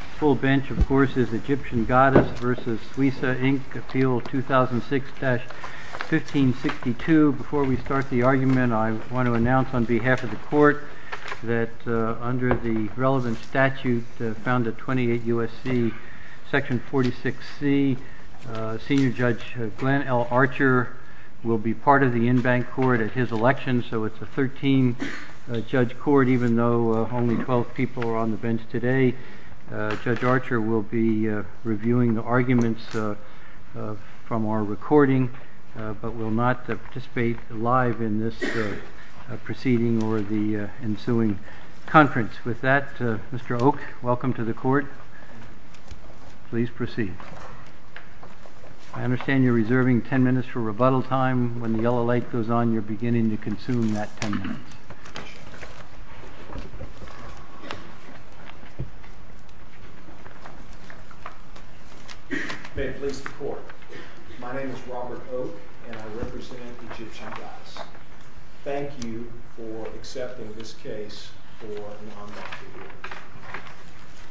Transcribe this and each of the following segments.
Appeal 2006-1562. Before we start the argument, I want to announce on behalf of the Court that under the relevant statute found at 28 U.S.C., Section 46C, Senior Judge Glenn L. Archer will be part of the in-bank court at his election, so it's a 13-judge court even though only 12 people are on the bench today. Judge Archer will be reviewing the arguments from our recording, but will not participate live in this proceeding or the ensuing conference. With that, Mr. Oak, welcome to the Court. Please proceed. I understand you're reserving 10 minutes for rebuttal time. When the yellow light goes on, you're beginning to consume that 10 minutes. May it please the Court. My name is Robert Oak, and I represent the Egyptian Goddess. Thank you for accepting this case for an unmarked reward.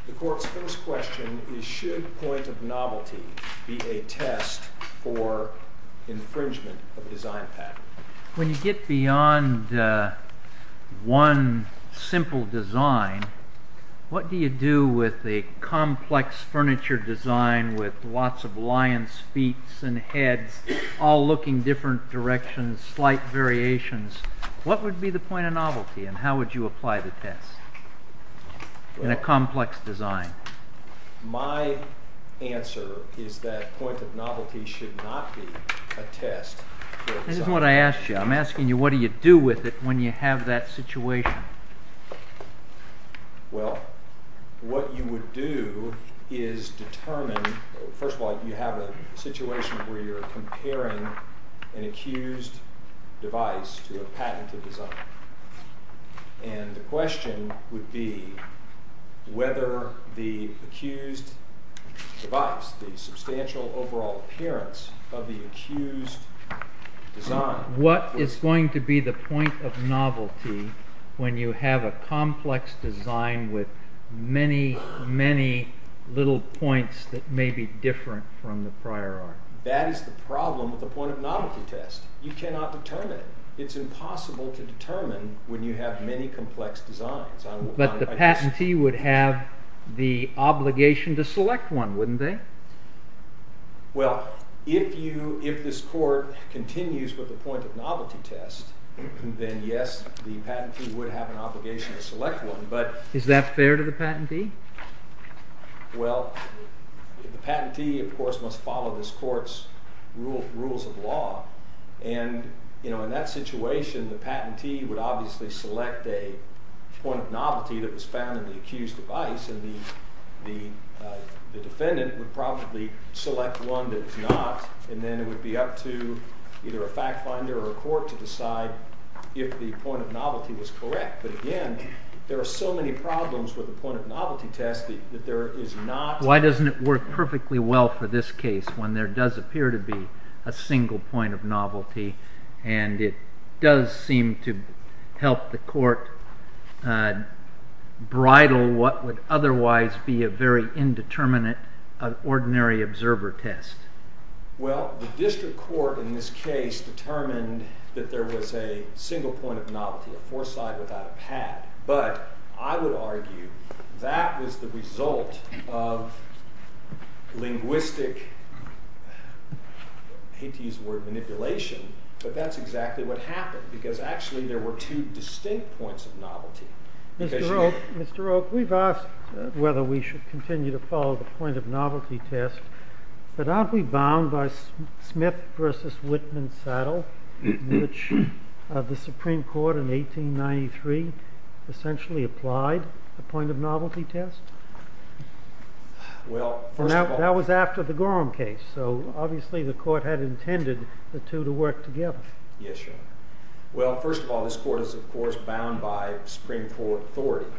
The Court's first question is, should point of novelty be a test for infringement of a design pattern? When you get beyond one simple design, what do you do with a complex furniture design with lots of lion's feet and heads all looking different directions, slight variations? What would be the point of novelty, and how would you apply the test in a complex design? My answer is that point of novelty should not be a test for design. This is what I asked you. I'm asking you, what do you do with it when you have that situation? Well, what you would do is determine—first of all, you have a situation where you're comparing an accused device to a patented design. And the question would be whether the accused device, the substantial overall appearance of the accused design— What is going to be the point of novelty when you have a complex design with many, many little points that may be different from the prior art? That is the problem with the point of novelty test. You cannot determine it. It's impossible to determine when you have many complex designs. But the patentee would have the obligation to select one, wouldn't they? Well, if this Court continues with the point of novelty test, then yes, the patentee would have an obligation to select one, but— Is that fair to the patentee? Well, the patentee, of course, must follow this Court's rules of law. And, you know, in that situation, the patentee would obviously select a point of novelty that was found in the accused device, and the defendant would probably select one that is not. And then it would be up to either a fact finder or a court to decide if the point of novelty was correct. But, again, there are so many problems with the point of novelty test that there is not— Why doesn't it work perfectly well for this case when there does appear to be a single point of novelty, and it does seem to help the Court bridle what would otherwise be a very indeterminate, ordinary observer test? Well, the district court in this case determined that there was a single point of novelty, a foresight without a pad. But I would argue that was the result of linguistic—I hate to use the word manipulation, but that's exactly what happened, because actually there were two distinct points of novelty. Mr. Roque, we've asked whether we should continue to follow the point of novelty test. But aren't we bound by Smith v. Whitman-Saddle, which the Supreme Court in 1893 essentially applied a point of novelty test? Well, first of all— That was after the Gorham case. So, obviously, the Court had intended the two to work together. Yes, Your Honor. Well, first of all, this Court is, of course, bound by Supreme Court authority.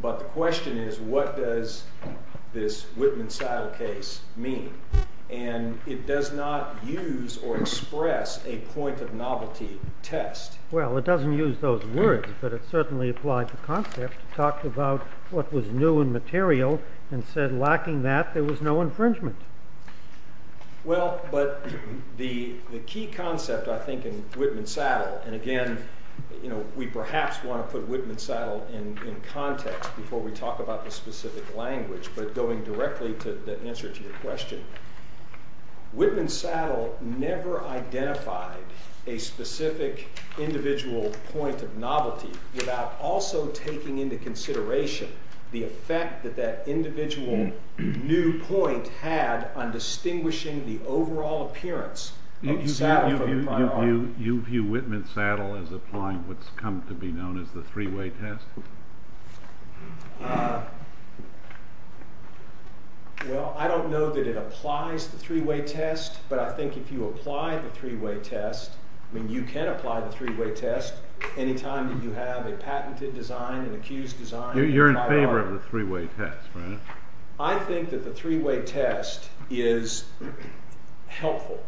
But the question is, what does this Whitman-Saddle case mean? And it does not use or express a point of novelty test. Well, it doesn't use those words, but it certainly applied the concept. It talked about what was new and material and said, lacking that, there was no infringement. Well, but the key concept, I think, in Whitman-Saddle—and again, we perhaps want to put Whitman-Saddle in context before we talk about the specific language, but going directly to the answer to your question— Whitman-Saddle never identified a specific individual point of novelty without also taking into consideration the effect that that individual new point had on distinguishing the overall appearance of the saddle for the firearm. You view Whitman-Saddle as applying what's come to be known as the three-way test? Well, I don't know that it applies the three-way test, but I think if you apply the three-way test—I mean, you can apply the three-way test any time that you have a patented design, an accused design, a firearm. You're in favor of the three-way test, right? I think that the three-way test is helpful,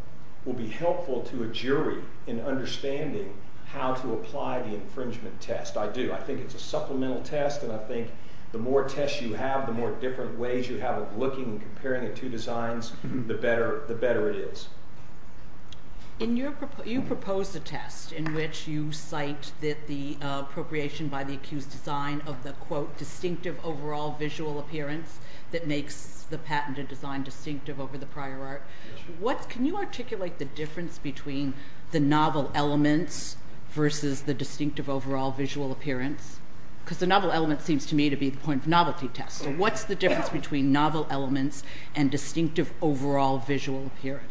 will be helpful to a jury in understanding how to apply the infringement test. I do. I think it's a supplemental test, and I think the more tests you have, the more different ways you have of looking and comparing the two designs, the better it is. In your—you propose a test in which you cite that the appropriation by the accused design of the, quote, distinctive overall visual appearance that makes the patented design distinctive over the prior art. Can you articulate the difference between the novel elements versus the distinctive overall visual appearance? Because the novel element seems to me to be the point of novelty test, so what's the difference between novel elements and distinctive overall visual appearance?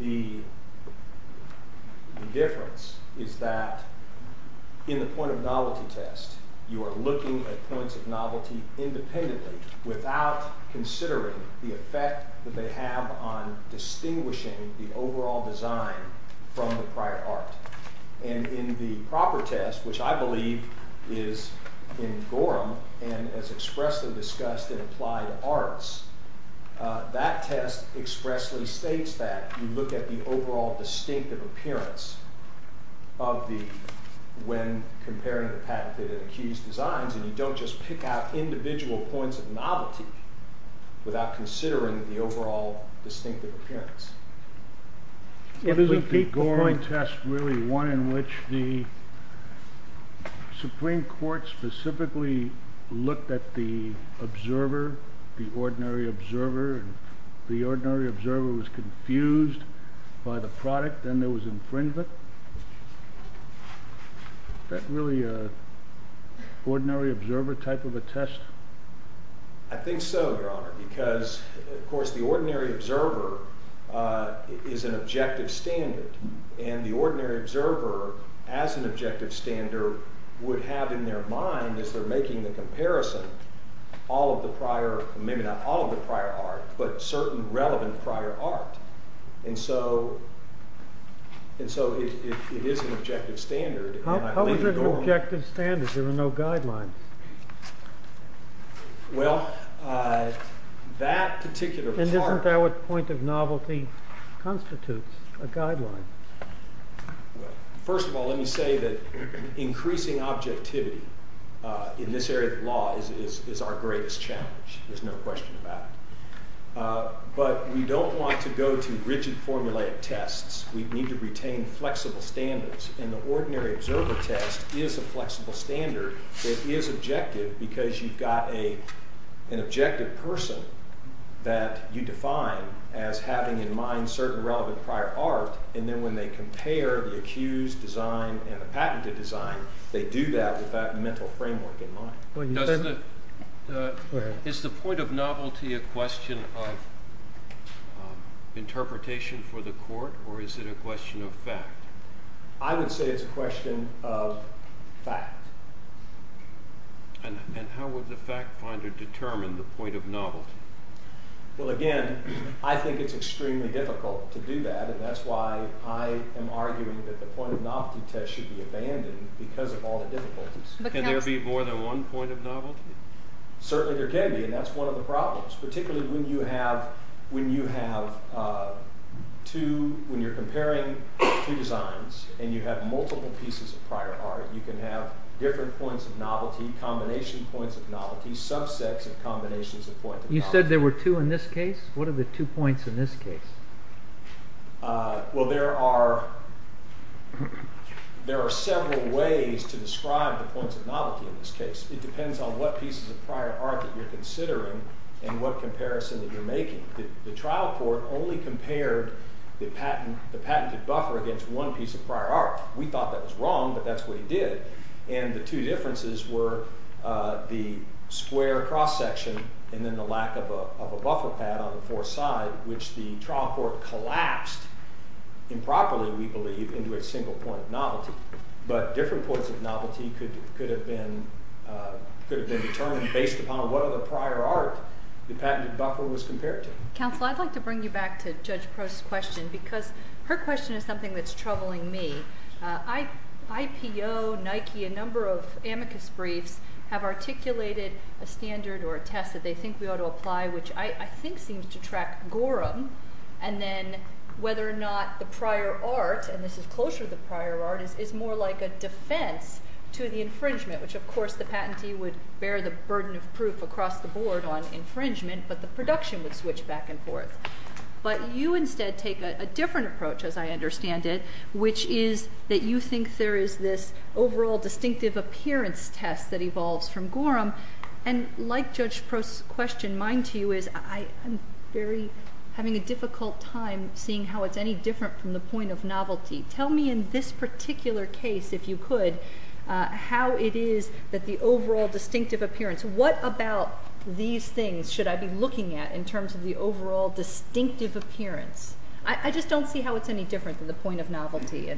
The difference is that in the point of novelty test, you are looking at points of novelty independently without considering the effect that they have on distinguishing the overall design from the prior art. And in the proper test, which I believe is in Gorham and is expressly discussed in Applied Arts, that test expressly states that. You look at the overall distinctive appearance of the—when comparing the patented and accused designs, and you don't just pick out individual points of novelty without considering the overall distinctive appearance. Isn't the Gorham test really one in which the Supreme Court specifically looked at the observer, the ordinary observer, and the ordinary observer was confused by the product and there was infringement? Is that really an ordinary observer type of a test? I think so, Your Honor, because, of course, the ordinary observer is an objective standard. And the ordinary observer, as an objective standard, would have in their mind as they're making the comparison all of the prior—maybe not all of the prior art, but certain relevant prior art. And so it is an objective standard. How is it an objective standard? There are no guidelines. Well, that particular part— And isn't that what point of novelty constitutes, a guideline? Well, first of all, let me say that increasing objectivity in this area of law is our greatest challenge. There's no question about it. But we don't want to go to rigid formulaic tests. We need to retain flexible standards. And the ordinary observer test is a flexible standard. It is objective because you've got an objective person that you define as having in mind certain relevant prior art, and then when they compare the accused design and the patented design, they do that with that mental framework in mind. Is the point of novelty a question of interpretation for the court, or is it a question of fact? I would say it's a question of fact. And how would the fact finder determine the point of novelty? Well, again, I think it's extremely difficult to do that, and that's why I am arguing that the point of novelty test should be abandoned because of all the difficulties. Can there be more than one point of novelty? Certainly there can be, and that's one of the problems, particularly when you have two—when you're comparing two designs and you have multiple pieces of prior art, you can have different points of novelty, combination points of novelty, subsets of combinations of points of novelty. You said there were two in this case? What are the two points in this case? Well, there are several ways to describe the points of novelty in this case. It depends on what pieces of prior art that you're considering and what comparison that you're making. The trial court only compared the patented buffer against one piece of prior art. We thought that was wrong, but that's what he did. And the two differences were the square cross-section and then the lack of a buffer pad on the foreside, which the trial court collapsed improperly, we believe, into a single point of novelty. But different points of novelty could have been determined based upon what other prior art the patented buffer was compared to. Counsel, I'd like to bring you back to Judge Prost's question because her question is something that's troubling me. IPO, Nike, a number of amicus briefs have articulated a standard or a test that they think we ought to apply, which I think seems to track Gorham, and then whether or not the prior art, and this is closer to the prior art, is more like a defense to the infringement, which of course the patentee would bear the burden of proof across the board on infringement, but the production would switch back and forth. But you instead take a different approach, as I understand it, which is that you think there is this overall distinctive appearance test that evolves from Gorham, and like Judge Prost's question, mine to you is I'm having a difficult time seeing how it's any different from the point of novelty. Tell me in this particular case, if you could, how it is that the overall distinctive appearance, what about these things should I be looking at in terms of the overall distinctive appearance? I just don't see how it's any different than the point of novelty,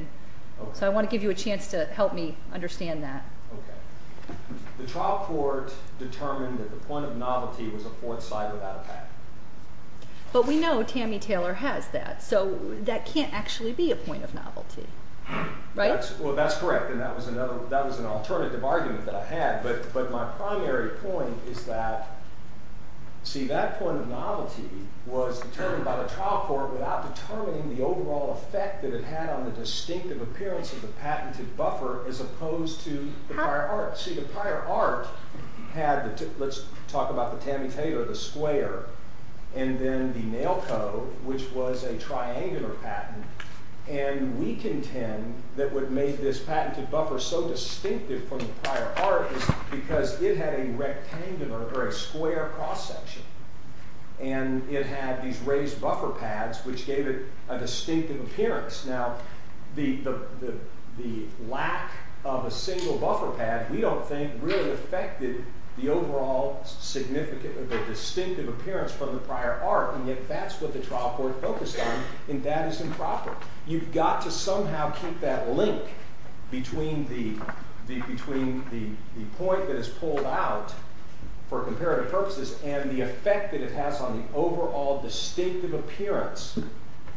so I want to give you a chance to help me understand that. Okay. The trial court determined that the point of novelty was a fourth side without a path. But we know Tammy Taylor has that, so that can't actually be a point of novelty, right? Well, that's correct, and that was an alternative argument that I had, but my primary point is that, see, that point of novelty was determined by the trial court without determining the overall effect that it had on the distinctive appearance of the patented buffer as opposed to the prior art. Let's talk about the Tammy Taylor, the square, and then the Nail Co., which was a triangular patent, and we contend that what made this patented buffer so distinctive from the prior art is because it had a rectangular or a square cross-section, and it had these raised buffer pads, which gave it a distinctive appearance. Now, the lack of a single buffer pad, we don't think, really affected the overall distinctive appearance from the prior art, and yet that's what the trial court focused on, and that is improper. You've got to somehow keep that link between the point that is pulled out for comparative purposes and the effect that it has on the overall distinctive appearance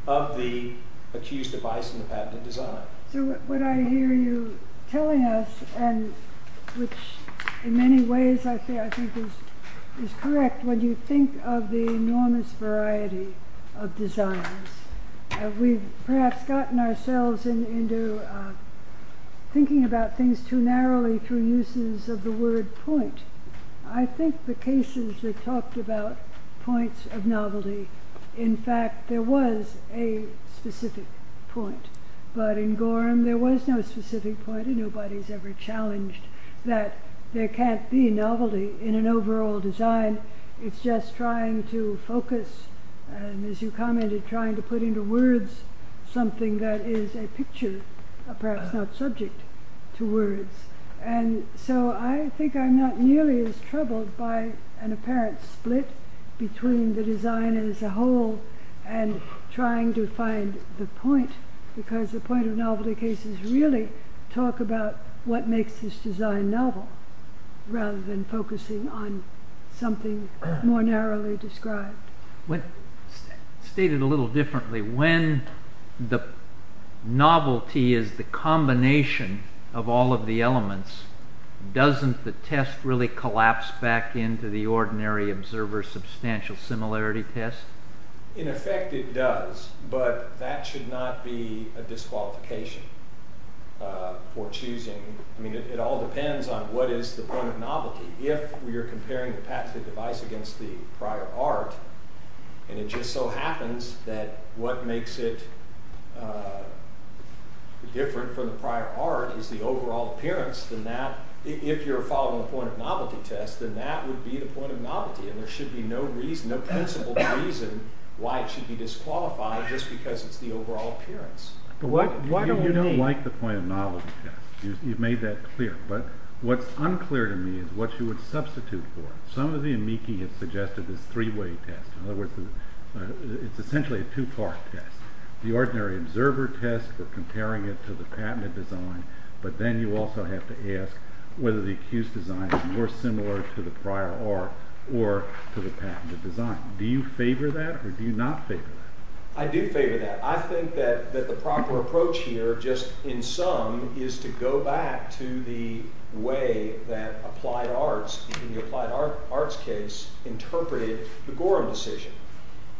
of the accused device in the patented design. So what I hear you telling us, which in many ways I think is correct, when you think of the enormous variety of designs, we've perhaps gotten ourselves into thinking about things too narrowly through uses of the word point. I think the cases that talked about points of novelty, in fact, there was a specific point, but in Gorham there was no specific point and nobody's ever challenged that there can't be novelty in an overall design, it's just trying to focus, and as you commented, trying to put into words something that is a picture, perhaps not subject to words. And so I think I'm not nearly as troubled by an apparent split between the design as a whole and trying to find the point, because the point of novelty cases really talk about what makes this design novel, rather than focusing on something more narrowly described. Stated a little differently, when the novelty is the combination of all of the elements, doesn't the test really collapse back into the ordinary observer's substantial similarity test? In effect it does, but that should not be a disqualification for choosing. I mean, it all depends on what is the point of novelty. If you're comparing the patented device against the prior art, and it just so happens that what makes it different from the prior art is the overall appearance, then that, if you're following the point of novelty test, then that would be the point of novelty, and there should be no principle reason why it should be disqualified just because it's the overall appearance. You don't like the point of novelty test. You've made that clear. But what's unclear to me is what you would substitute for. Some of the amici have suggested this three-way test. In other words, it's essentially a two-part test. The ordinary observer test for comparing it to the patented design, but then you also have to ask whether the accused design is more similar to the prior art or to the patented design. Do you favor that, or do you not favor that? I do favor that. I think that the proper approach here, just in sum, is to go back to the way that applied arts, in the applied arts case, interpreted the Gorham decision.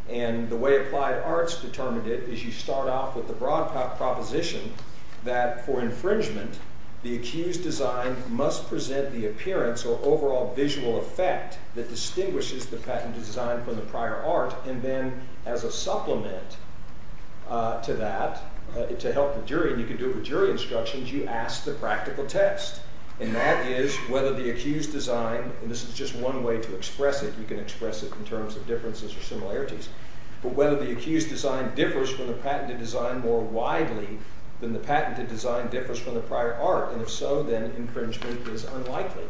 And the way applied arts determined it is you start off with the broad proposition that, for infringement, the accused design must present the appearance or overall visual effect that distinguishes the patented design from the prior art, and then, as a supplement to that, to help the jury, and you can do it with jury instructions, you ask the practical test. And that is whether the accused design, and this is just one way to express it, you can express it in terms of differences or similarities, but whether the accused design differs from the patented design more widely than the patented design differs from the prior art. And if so, then infringement is unlikely.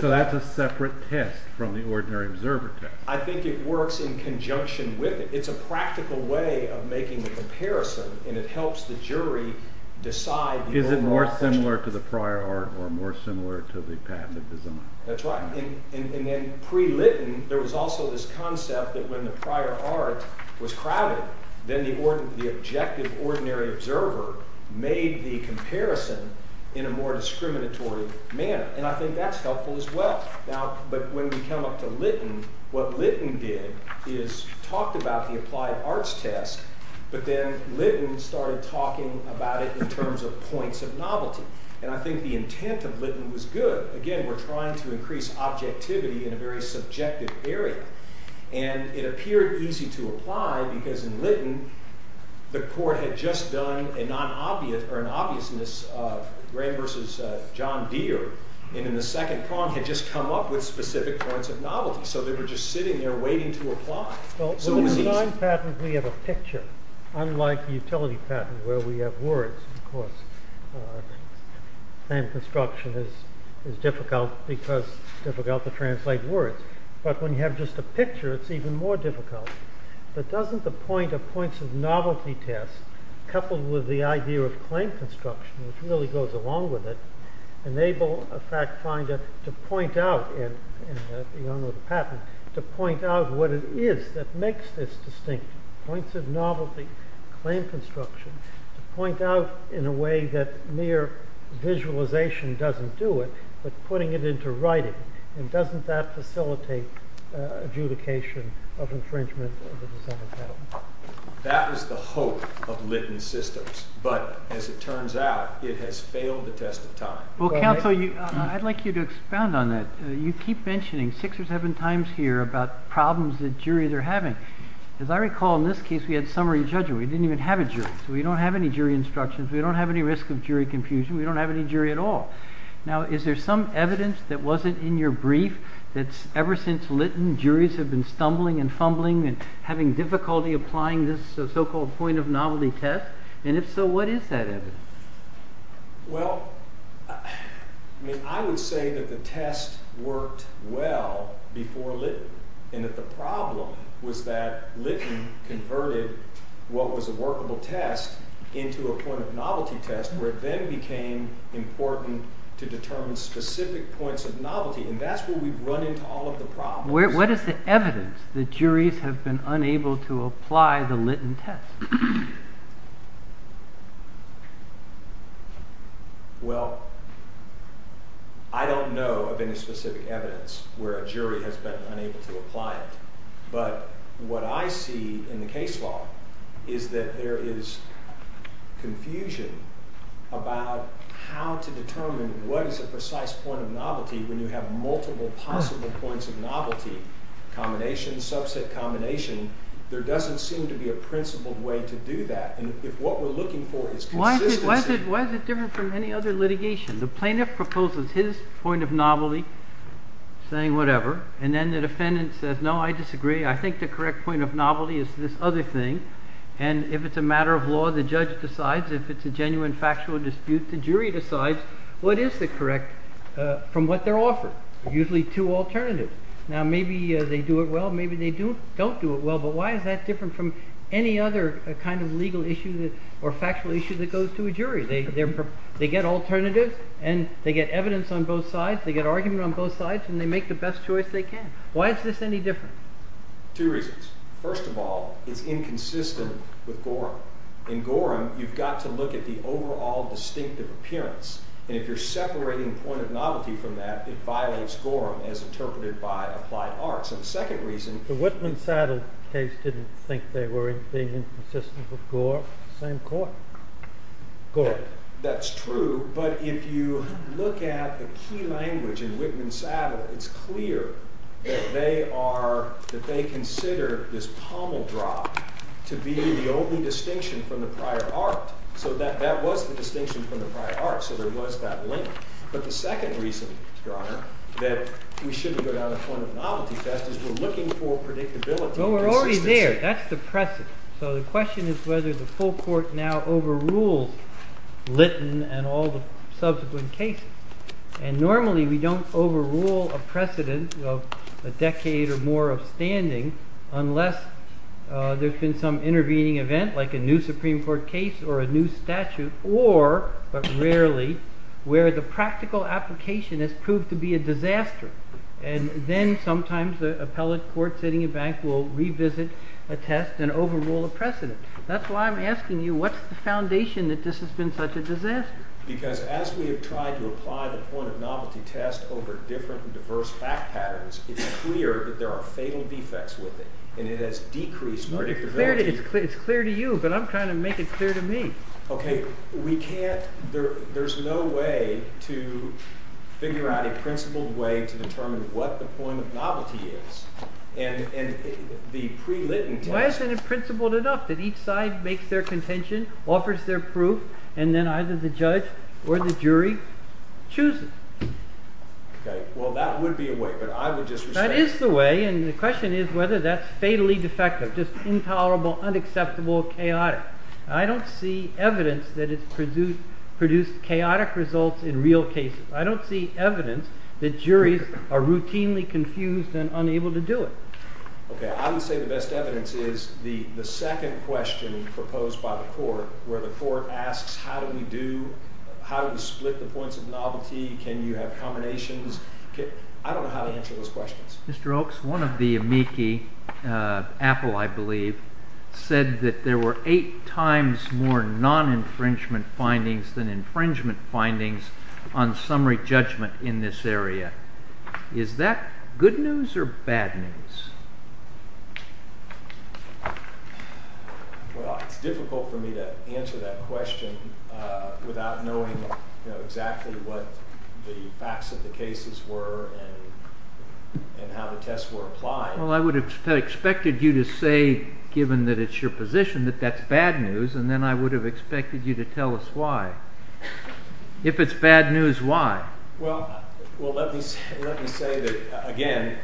So that's a separate test from the ordinary observer test. I think it works in conjunction with it. It's a practical way of making the comparison, and it helps the jury decide. Is it more similar to the prior art or more similar to the patented design? That's right. In pre-Lytton, there was also this concept that when the prior art was crowded, then the objective ordinary observer made the comparison in a more discriminatory manner. And I think that's helpful as well. But when we come up to Lytton, what Lytton did is talked about the applied arts test, but then Lytton started talking about it in terms of points of novelty. And I think the intent of Lytton was good. Again, we're trying to increase objectivity in a very subjective area. And it appeared easy to apply because in Lytton, the court had just done an obviousness of Graham versus John Deere, and in the second prong, had just come up with specific points of novelty. So they were just sitting there waiting to apply. Well, in the design patent, we have a picture. Unlike the utility patent where we have words, of course, and construction is difficult because it's difficult to translate words. But when you have just a picture, it's even more difficult. But doesn't the point of points of novelty test coupled with the idea of claim construction, which really goes along with it, enable a fact finder to point out in the patent, to point out what it is that makes this distinct, points of novelty, claim construction, to point out in a way that mere visualization doesn't do it, but putting it into writing. And doesn't that facilitate adjudication of infringement of the design patent? That was the hope of Lytton systems. But as it turns out, it has failed the test of time. Well, counsel, I'd like you to expand on that. You keep mentioning six or seven times here about problems that juries are having. As I recall, in this case, we had summary judgment. We didn't even have a jury. So we don't have any jury instructions. We don't have any risk of jury confusion. We don't have any jury at all. Now, is there some evidence that wasn't in your brief that ever since Lytton, juries have been stumbling and fumbling and having difficulty applying this so-called point of novelty test? And if so, what is that evidence? Well, I would say that the test worked well before Lytton, and that the problem was that Lytton converted what was a workable test into a point of novelty test, where it then became important to determine specific points of novelty. And that's where we've run into all of the problems. What is the evidence that juries have been unable to apply the Lytton test? Well, I don't know of any specific evidence where a jury has been unable to apply it. But what I see in the case law is that there is confusion about how to determine what is a precise point of novelty when you have multiple possible points of novelty, combination, subset combination. There doesn't seem to be a principled way to do that. And if what we're looking for is consistency. Why is it different from any other litigation? The plaintiff proposes his point of novelty, saying whatever, and then the defendant says, no, I disagree. I think the correct point of novelty is this other thing. And if it's a matter of law, the judge decides. If it's a genuine factual dispute, the jury decides. What is the correct from what they're offered? Usually two alternatives. Now, maybe they do it well. Maybe they don't do it well. But why is that different from any other kind of legal issue or factual issue that goes to a jury? They get alternatives, and they get evidence on both sides. They get argument on both sides, and they make the best choice they can. Why is this any different? Two reasons. First of all, it's inconsistent with Gorham. In Gorham, you've got to look at the overall distinctive appearance. And if you're separating point of novelty from that, it violates Gorham as interpreted by applied arts. And the second reason. The Whitman-Saddle case didn't think they were inconsistent with Gorham. Same court. Gorham. That's true. But if you look at the key language in Whitman-Saddle, it's clear that they consider this pommel drop to be the only distinction from the prior art. So that was the distinction from the prior art. So there was that link. But the second reason, Your Honor, that we shouldn't go down the point of novelty test is we're looking for predictability. Well, we're already there. That's the precedent. So the question is whether the full court now overrules Litton and all the subsequent cases. And normally we don't overrule a precedent of a decade or more of standing unless there's been some intervening event, like a new Supreme Court case or a new statute, or, but rarely, where the practical application has proved to be a disaster. And then sometimes the appellate court sitting in back will revisit a test and overrule a precedent. That's why I'm asking you, what's the foundation that this has been such a disaster? Because as we have tried to apply the point of novelty test over different and diverse fact patterns, it's clear that there are fatal defects with it. And it has decreased predictability. It's clear to you, but I'm trying to make it clear to me. OK. We can't, there's no way to figure out a principled way to determine what the point of novelty is. And the pre-Litton test. Why isn't it principled enough that each side makes their contention, offers their proof, and then either the judge or the jury chooses? OK. Well, that would be a way, but I would just respect that. That is the way, and the question is whether that's fatally defective, just intolerable, unacceptable, chaotic. I don't see evidence that it's produced chaotic results in real cases. I don't see evidence that juries are routinely confused and unable to do it. OK. I would say the best evidence is the second question proposed by the court, where the court asks how do we do, how do we split the points of novelty? Can you have combinations? I don't know how to answer those questions. Mr. Oaks, one of the amici, Apple, I believe, said that there were eight times more non-infringement findings than infringement findings on summary judgment in this area. Is that good news or bad news? Well, it's difficult for me to answer that question without knowing exactly what the facts of the cases were and how the tests were applied. Well, I would have expected you to say, given that it's your position, that that's bad news, and then I would have expected you to tell us why. If it's bad news, why? Well, let me say that, again,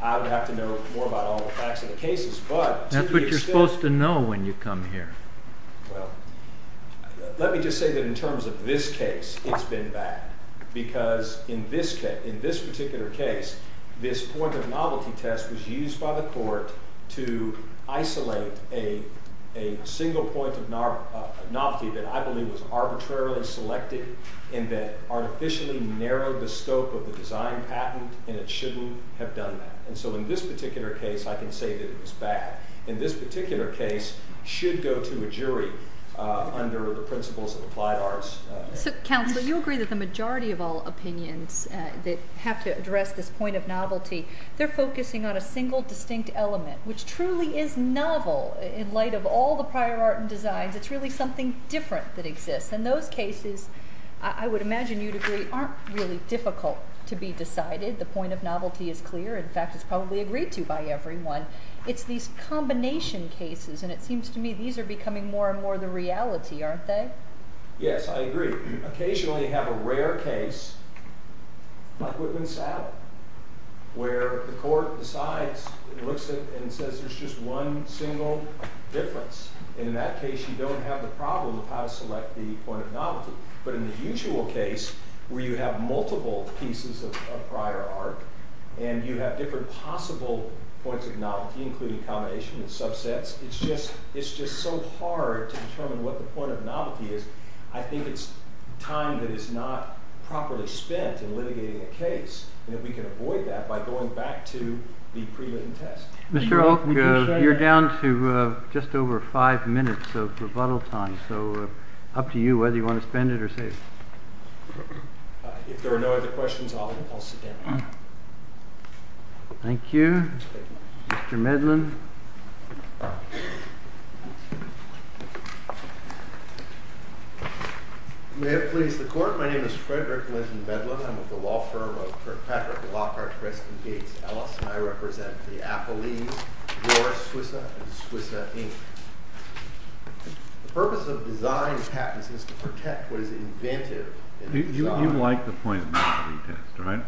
I would have to know more about all the facts of the cases. That's what you're supposed to know when you come here. Well, let me just say that in terms of this case, it's been bad, because in this case, in this particular case, this point of novelty test was used by the court to isolate a single point of novelty that I believe was arbitrarily selected and that artificially narrowed the scope of the design patent, and it shouldn't have done that. And so in this particular case, I can say that it was bad. In this particular case, it should go to a jury under the principles of applied arts. So, counsel, you agree that the majority of all opinions that have to address this point of novelty, they're focusing on a single distinct element, which truly is novel in light of all the prior art and designs. It's really something different that exists. And those cases, I would imagine you'd agree, aren't really difficult to be decided. The point of novelty is clear. In fact, it's probably agreed to by everyone. It's these combination cases, and it seems to me these are becoming more and more the reality, aren't they? Yes, I agree. Occasionally you have a rare case, like Whitman-Saddell, where the court decides and looks at it and says there's just one single difference. And in that case, you don't have the problem of how to select the point of novelty. But in the usual case, where you have multiple pieces of prior art, and you have different possible points of novelty, including combination and subsets, it's just so hard to determine what the point of novelty is. I think it's time that is not properly spent in litigating a case, and if we can avoid that by going back to the pre-written test. Mr. Olk, you're down to just over five minutes of rebuttal time. So up to you whether you want to spend it or save it. If there are no other questions, I'll sit down. Thank you. Mr. Medlin. May it please the Court. My name is Frederick Linton Medlin. I'm with the law firm of Patrick Lockhart, Preston Gates, Ellis, and I represent the Appellees, George Swissa, and Swissa, Inc. The purpose of design patents is to protect what is inventive. You like the point of novelty test, right?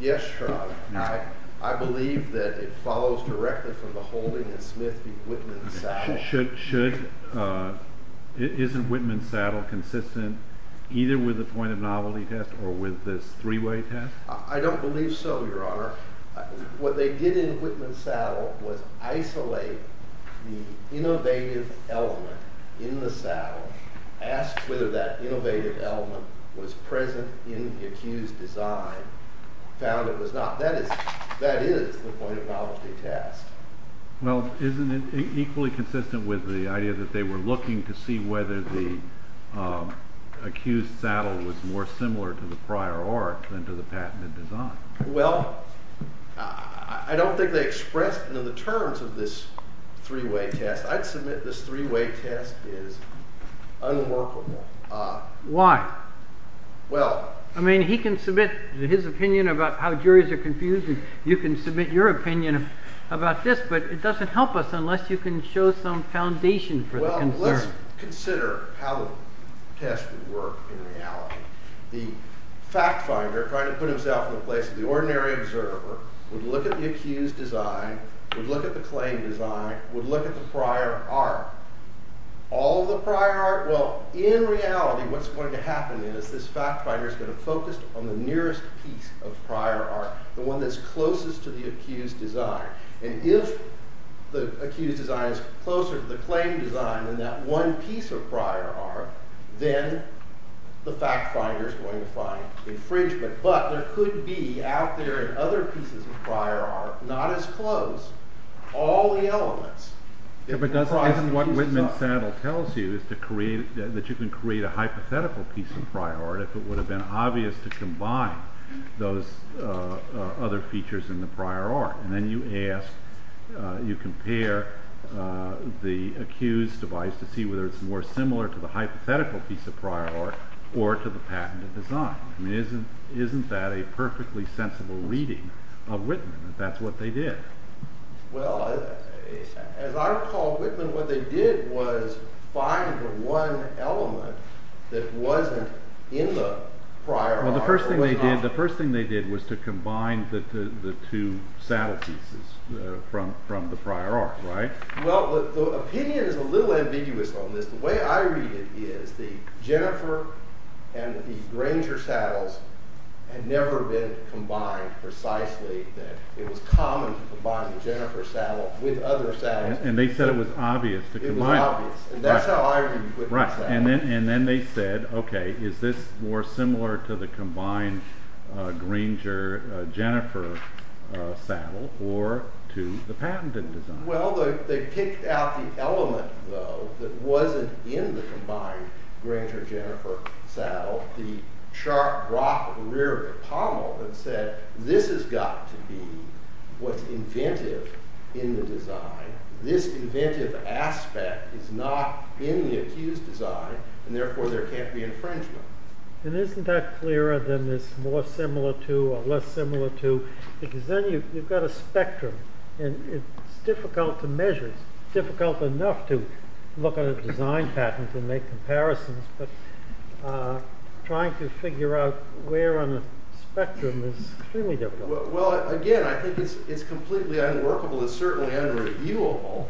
Yes, Your Honor. I believe that it follows directly from the holding in Smith v. Whitman-Saddell. Isn't Whitman-Saddell consistent either with the point of novelty test or with this three-way test? I don't believe so, Your Honor. What they did in Whitman-Saddell was isolate the innovative element in the saddle, asked whether that innovative element was present in the accused design, found it was not. That is the point of novelty test. Well, isn't it equally consistent with the idea that they were looking to see whether the accused saddle was more similar to the prior art than to the patented design? Well, I don't think they expressed it in the terms of this three-way test. I'd submit this three-way test is unworkable. Why? Well... I mean, he can submit his opinion about how juries are confused, and you can submit your opinion about this, but it doesn't help us unless you can show some foundation for the concern. Well, let's consider how the test would work in reality. The fact finder, trying to put himself in the place of the ordinary observer, would look at the accused design, would look at the claimed design, would look at the prior art. All the prior art? Well, in reality, what's going to happen is this fact finder is going to focus on the nearest piece of prior art, the one that's closest to the accused design. And if the accused design is closer to the claimed design than that one piece of prior art, then the fact finder is going to find infringement. But there could be, out there in other pieces of prior art, not as close, all the elements. But isn't what Whitman's saddle tells you is that you can create a hypothetical piece of prior art if it would have been obvious to combine those other features in the prior art. And then you ask, you compare the accused device to see whether it's more similar to the hypothetical piece of prior art or to the patented design. Isn't that a perfectly sensible reading of Whitman, that that's what they did? Well, as I recall, Whitman, what they did was find the one element that wasn't in the prior art. Well, the first thing they did was to combine the two saddle pieces from the prior art, right? Well, the opinion is a little ambiguous on this. The way I read it is the Jennifer and the Granger saddles had never been combined precisely. It was common to combine the Jennifer saddle with other saddles. And they said it was obvious to combine them. And that's how I read Whitman's saddle. And then they said, okay, is this more similar to the combined Granger-Jennifer saddle or to the patented design? Well, they picked out the element, though, that wasn't in the combined Granger-Jennifer saddle, the sharp rock rear pommel, and said this has got to be what's inventive in the design. This inventive aspect is not in the accused design, and therefore there can't be infringement. And isn't that clearer than this more similar to or less similar to? Because then you've got a spectrum. And it's difficult to measure. It's difficult enough to look at a design patent and make comparisons. But trying to figure out where on a spectrum is extremely difficult. Well, again, I think it's completely unworkable and certainly unreviewable.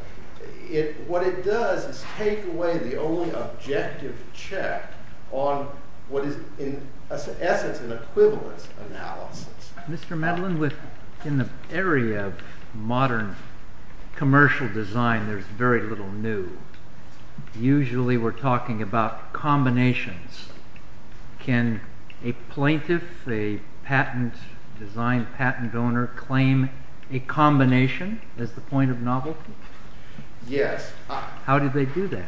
What it does is take away the only objective check on what is in essence an equivalence analysis. Mr. Medlin, in the area of modern commercial design, there's very little new. Usually we're talking about combinations. Can a plaintiff, a design patent owner, claim a combination as the point of novelty? Yes. How do they do that?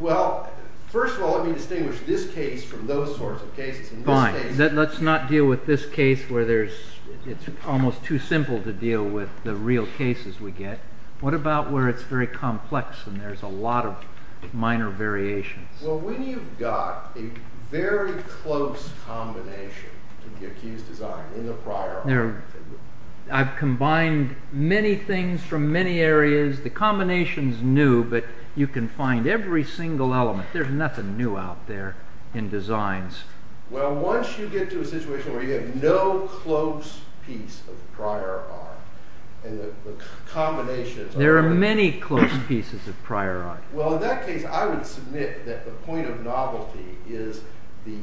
Well, first of all, let me distinguish this case from those sorts of cases. Fine. Let's not deal with this case where it's almost too simple to deal with the real cases we get. What about where it's very complex and there's a lot of minor variations? Well, when you've got a very close combination to the accused design in the prior art... I've combined many things from many areas. The combination's new, but you can find every single element. There's nothing new out there in designs. Well, once you get to a situation where you have no close piece of prior art and the combinations... There are many close pieces of prior art. Well, in that case, I would submit that the point of novelty is the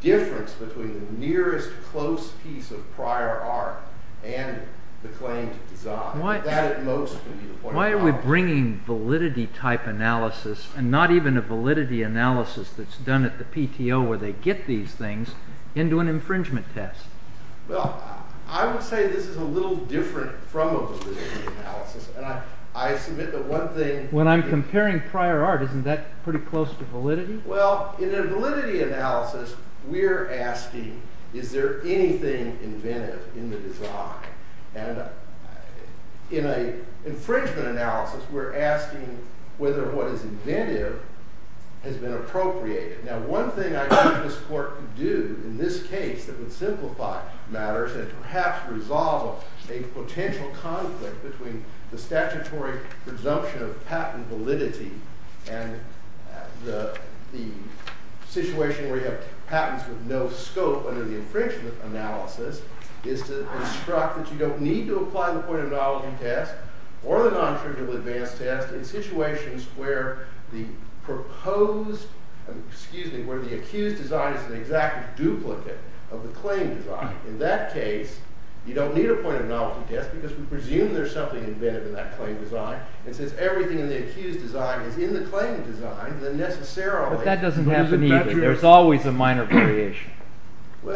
difference between the nearest close piece of prior art and the claimed design. That, at most, would be the point of novelty. Why are we bringing validity-type analysis, and not even a validity analysis that's done at the PTO where they get these things, into an infringement test? Well, I would say this is a little different from a validity analysis, and I submit that one thing... When I'm comparing prior art, isn't that pretty close to validity? Well, in a validity analysis, we're asking, is there anything inventive in the design? And in an infringement analysis, we're asking whether what is inventive has been appropriated. Now, one thing I think this court could do in this case that would simplify matters and perhaps resolve a potential conflict between the statutory presumption of patent validity and the situation where you have patents with no scope under the infringement analysis is to instruct that you don't need to apply the point of novelty test or the non-triggerable advanced test in situations where the proposed... Excuse me, where the accused design is an exact duplicate of the claimed design. In that case, you don't need a point of novelty test because we presume there's something inventive in that claimed design. And since everything in the accused design is in the claimed design, then necessarily... But that doesn't happen either. There's always a minor variation.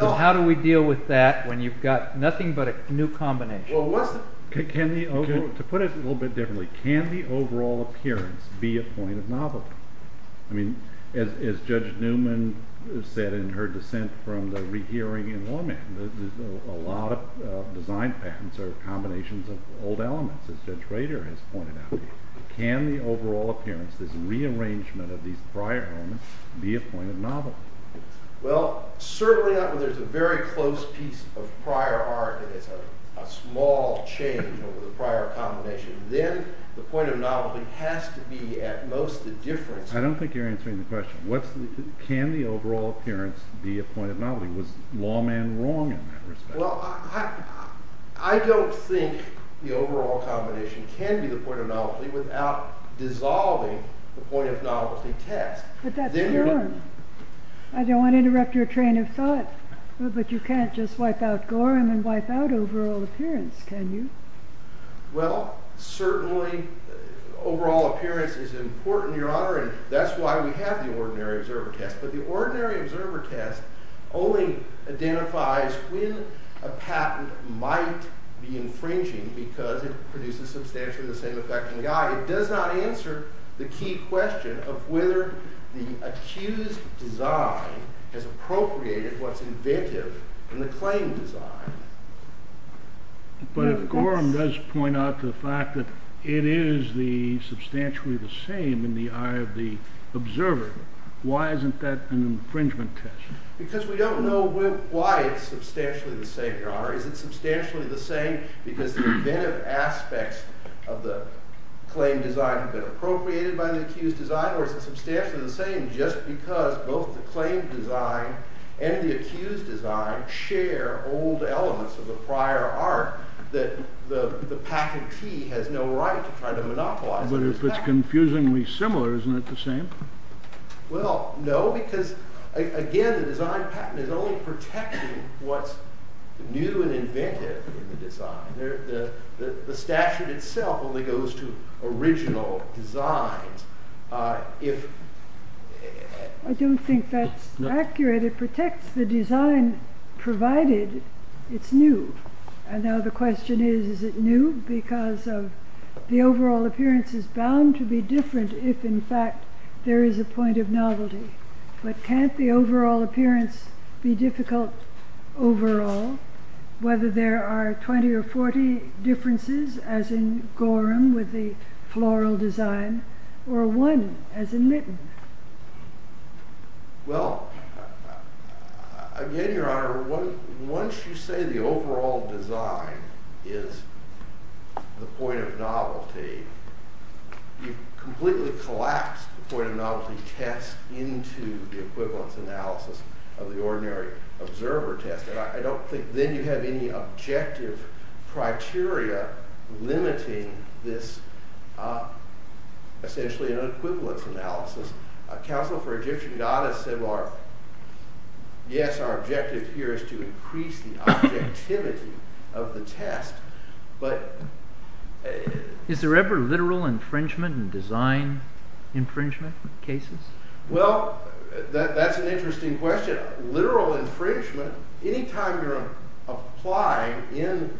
How do we deal with that when you've got nothing but a new combination? To put it a little bit differently, can the overall appearance be a point of novelty? As Judge Newman said in her dissent from the rehearing in Womack, a lot of design patents are combinations of old elements, as Judge Rader has pointed out. Can the overall appearance, this rearrangement of these prior elements, be a point of novelty? Well, certainly not when there's a very close piece of prior art and it's a small change over the prior combination. Then the point of novelty has to be at most a difference... I don't think you're answering the question. Can the overall appearance be a point of novelty? Was Lawman wrong in that respect? Well, I don't think the overall combination can be the point of novelty without dissolving the point of novelty test. But that's Gorham. I don't want to interrupt your train of thought. But you can't just wipe out Gorham and wipe out overall appearance, can you? Well, certainly overall appearance is important, Your Honor, and that's why we have the ordinary observer test. But the ordinary observer test only identifies when a patent might be infringing because it produces substantially the same effect in the eye. It does not answer the key question of whether the accused design has appropriated what's inventive in the claimed design. But if Gorham does point out the fact that it is substantially the same in the eye of the observer, why isn't that an infringement test? Because we don't know why it's substantially the same, Your Honor. Is it substantially the same because the inventive aspects of the claimed design have been appropriated by the accused design, or is it substantially the same just because both the claimed design and the accused design share old elements of the prior art that the patentee has no right to try to monopolize. But if it's confusingly similar, isn't it the same? Well, no, because, again, the design patent is only protecting what's new and inventive in the design. The statute itself only goes to original designs. If... I don't think that's accurate. It protects the design provided it's new. And now the question is is it new because of the overall appearance is bound to be different if, in fact, there is a point of novelty. But can't the overall appearance be difficult overall whether there are 20 or 40 differences as in Gorham with the floral design, or one as in Mitten? Well, again, Your Honor, once you say the overall design is the point of novelty, you completely collapse the point of novelty test into the equivalence analysis of the ordinary observer test. And I don't think then you have any objective criteria limiting this essentially an equivalence analysis. Counsel for Egyptian goddess said, yes, our objective here is to increase the objectivity of the test, but... Is there ever literal infringement in design infringement cases? Well, that's an interesting question. Literal infringement, any time you're applying in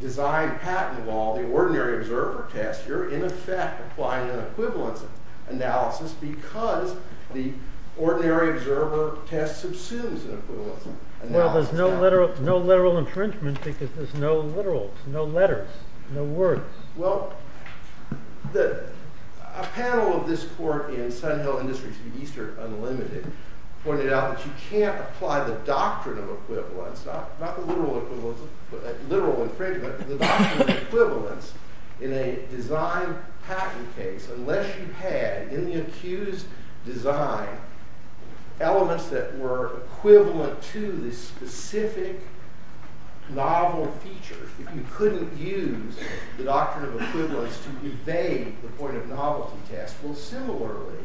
design patent law the ordinary observer test, you're in effect applying an equivalence analysis because the ordinary observer test subsumes an equivalence analysis. Well, there's no literal infringement because there's no literal, no letters, no words. Well, a panel of this court in Sun Hill Industries, Eastern Unlimited, pointed out that you can't apply the doctrine of equivalence, not the literal equivalence, literal infringement, the doctrine of equivalence in a design patent case unless you had in the accused design elements that were equivalent to the specific novel features. If you couldn't use the doctrine of equivalence to evade the point of novelty test. Well, similarly,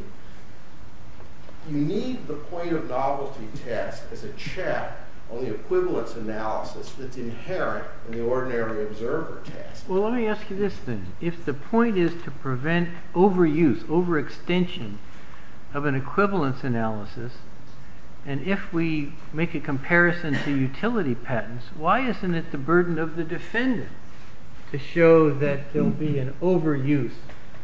you need the point of novelty test as a check on the equivalence analysis that's inherent in the ordinary observer test. Well, let me ask you this then. If the point is to prevent overuse, overextension of an equivalence analysis and if we make a comparison to utility patents, why isn't it the burden of the defendant to show that there'll be an overuse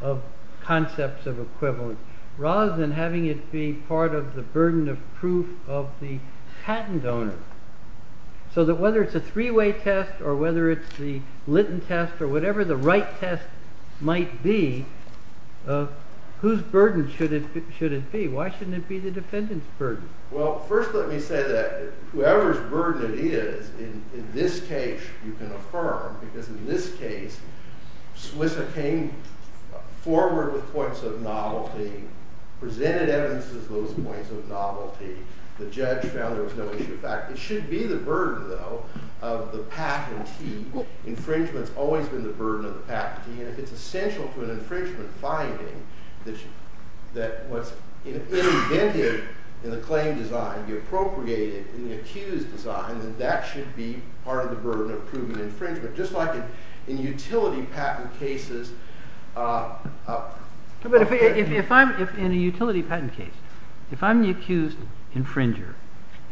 of concepts of equivalence rather than having it be part of the burden of proof of the patent owner so that whether it's a three-way test or whether it's the Linton test or whatever the right test might be, whose burden should it be? Why shouldn't it be the defendant's burden? I would say that whoever's burden it is, in this case, you can affirm because in this case, SWISA came forward with points of novelty, presented evidence as those points of novelty. The judge found there was no issue. In fact, it should be the burden though of the patentee. Infringement's always been the burden of the patentee and if it's essential to an infringement finding that what's invented in the claim design be appropriated in the accused design, then that should be part of the burden of proving infringement, just like in utility patent cases. But if I'm in a utility patent case, if I'm the accused infringer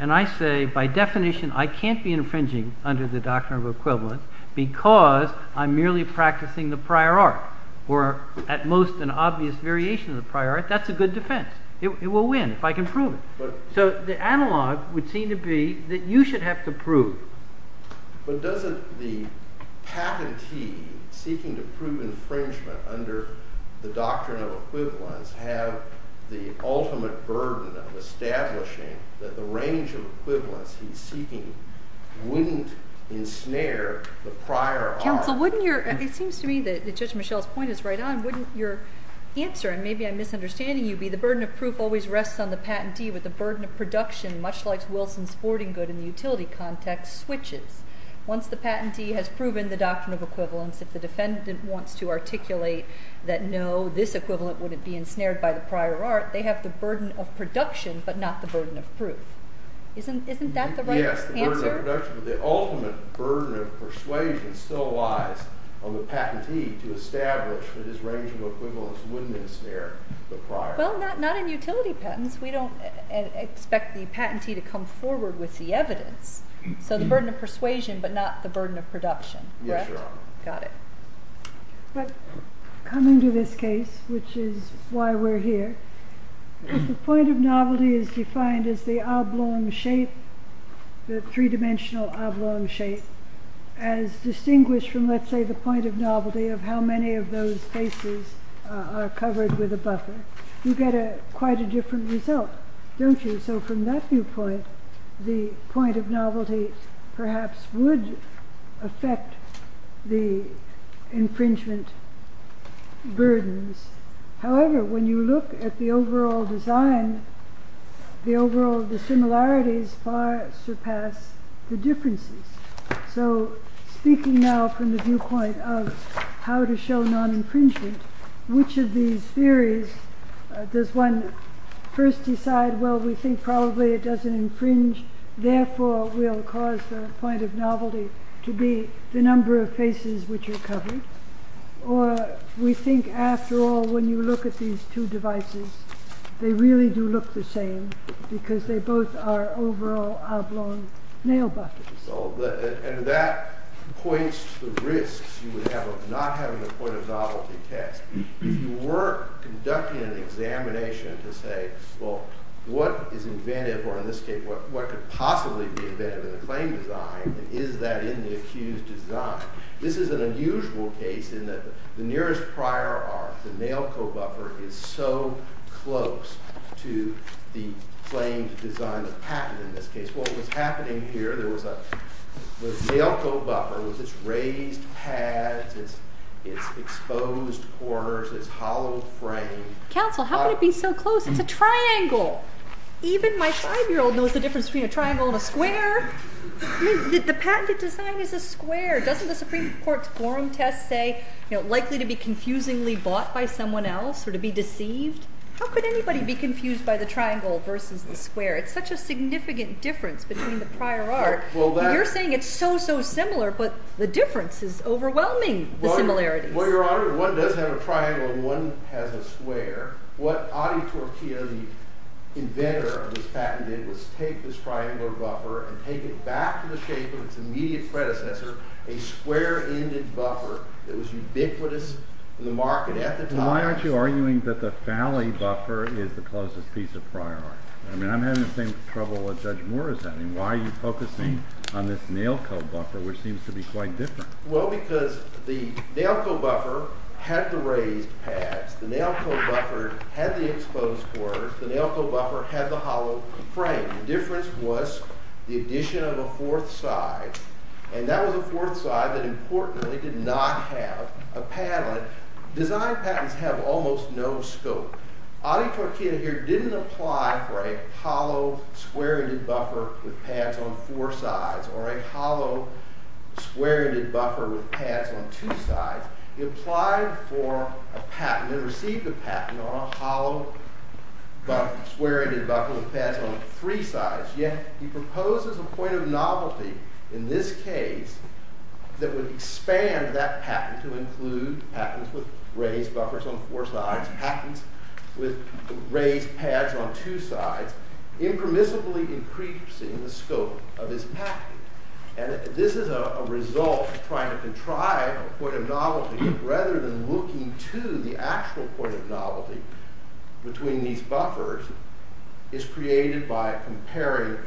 and I say by definition I can't be infringing under the doctrine of equivalence because I'm merely practicing the prior art or at most an obvious variation of the prior art, that's a good defense. It will win if I can prove it. So the analog would seem to be that you should have to prove. But doesn't the patentee seeking to prove infringement under the doctrine of equivalence have the ultimate burden of establishing that the range of equivalence he's seeking wouldn't ensnare the prior art? It seems to me that Judge Michelle's point is right on. Wouldn't your answer, and maybe I'm misunderstanding you, be the burden of proof always rests on the patentee, but the burden of production much like Wilson's sporting good in the utility context switches. Once the patentee has proven the doctrine of equivalence, if the defendant wants to articulate that no, this equivalent wouldn't be ensnared by the prior art, they have the burden of production, but not the burden of proof. Isn't that the right answer? The ultimate burden of persuasion still lies on the patentee to establish that his range of equivalence wouldn't ensnare the prior art. Well, not in utility patents. We don't expect the patentee to come forward with the evidence. So the burden of persuasion, but not the burden of production. Correct? Yes, Your Honor. Got it. Coming to this case, which is why we're here, if the point of novelty is defined as the oblong shape, the three-dimensional oblong shape, as distinguished from, let's say, the point of novelty of how many of those faces are covered with a buffer, you get quite a different result, don't you? So from that viewpoint, the point of novelty perhaps would affect the infringement burdens. However, when you look at the overall design, the overall dissimilarities far surpass the differences. So speaking now from the viewpoint of how to show non-infringement, which of these theories does one first decide, well, we think probably it doesn't infringe, therefore we'll cause the point of novelty to be the number of faces which are covered, or we think, after all, when you look at these two devices, they really do look the same because they both are overall oblong nail buffers. And that points to the risks you would have of not having a point of novelty test. If you were conducting an examination to say, well, what is inventive, or in this case, what could possibly be inventive in the claim design, and is that in the accused design? This is an unusual case in that the nearest prior arc, the nail co-buffer, is so close to the claimed design of patent, in this case. What was happening here, there was a nail co-buffer with its raised pads, its exposed corners, its hollow frame. Counsel, how could it be so close? It's a triangle. Even my five-year-old knows the difference between a triangle and a square. The patented design is a square. Doesn't the Supreme Court's forum test say, likely to be confusingly bought by someone else, or to be deceived? How could anybody be aware? It's such a significant difference between the prior arc. You're saying it's so, so similar, but the difference is overwhelming the similarities. Well, Your Honor, one does have a triangle and one has a square. What Adi Tortilla, the inventor of this patent did, was take this triangle buffer and take it back to the shape of its immediate predecessor, a square-ended buffer that was ubiquitous in the market at the time. Why aren't you arguing that the Falley buffer is the closest piece of prior arc? I'm having the same trouble as Judge Morris. Why are you focusing on this nail code buffer, which seems to be quite different? Well, because the nail code buffer had the raised pads. The nail code buffer had the exposed quarters. The nail code buffer had the hollow frame. The difference was the addition of a fourth side, and that was a fourth side that, importantly, did not have a padlet. Design patents have almost no scope. Adi Tortilla here didn't apply for a hollow square-ended buffer with pads on four sides, or a hollow square-ended buffer with pads on two sides. He applied for a patent and received a patent on a hollow square-ended buffer with pads on three sides. Yet, he proposes a point of novelty in this case that would expand that patent to include patents with raised buffers on four sides, patents with raised pads on two sides, impermissibly increasing the scope of his patent. And this is a result of trying to contrive a point of novelty rather than looking to the actual point of novelty between these buffers is created by comparing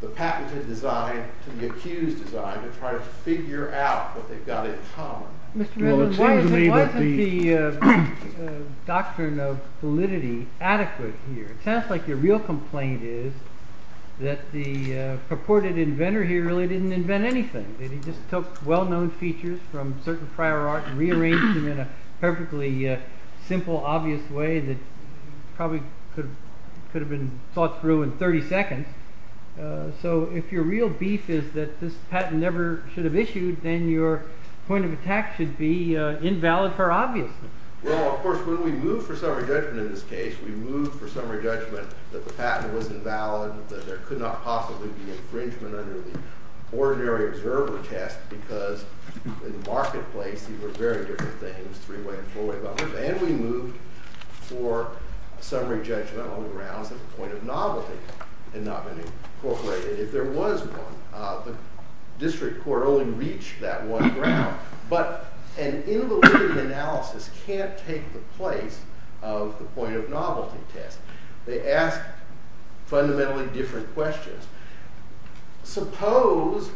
the patented design to the accused design to try to figure out what they've got in common. Why isn't the doctrine of validity adequate here? It sounds like your real complaint is that the purported inventor here really didn't invent anything. He just took well-known features from certain prior art and rearranged them in a perfectly simple, obvious way that probably could have been thought through in 30 seconds. So if your real beef is that this patent never should have issued, then your point of attack should be invalid for obviousness. Well, of course, when we moved for summary judgment in this case, we moved for summary judgment that the patent was invalid, that there could not possibly be infringement under the ordinary observer test because in the marketplace these were very different things, three-way and four-way buffers, and we moved for summary judgment on the grounds that the point of novelty had not been incorporated. If there was one, the district court only reached that one ground, but an invalidity analysis can't take the place of the point of novelty test. They ask fundamentally different questions. Suppose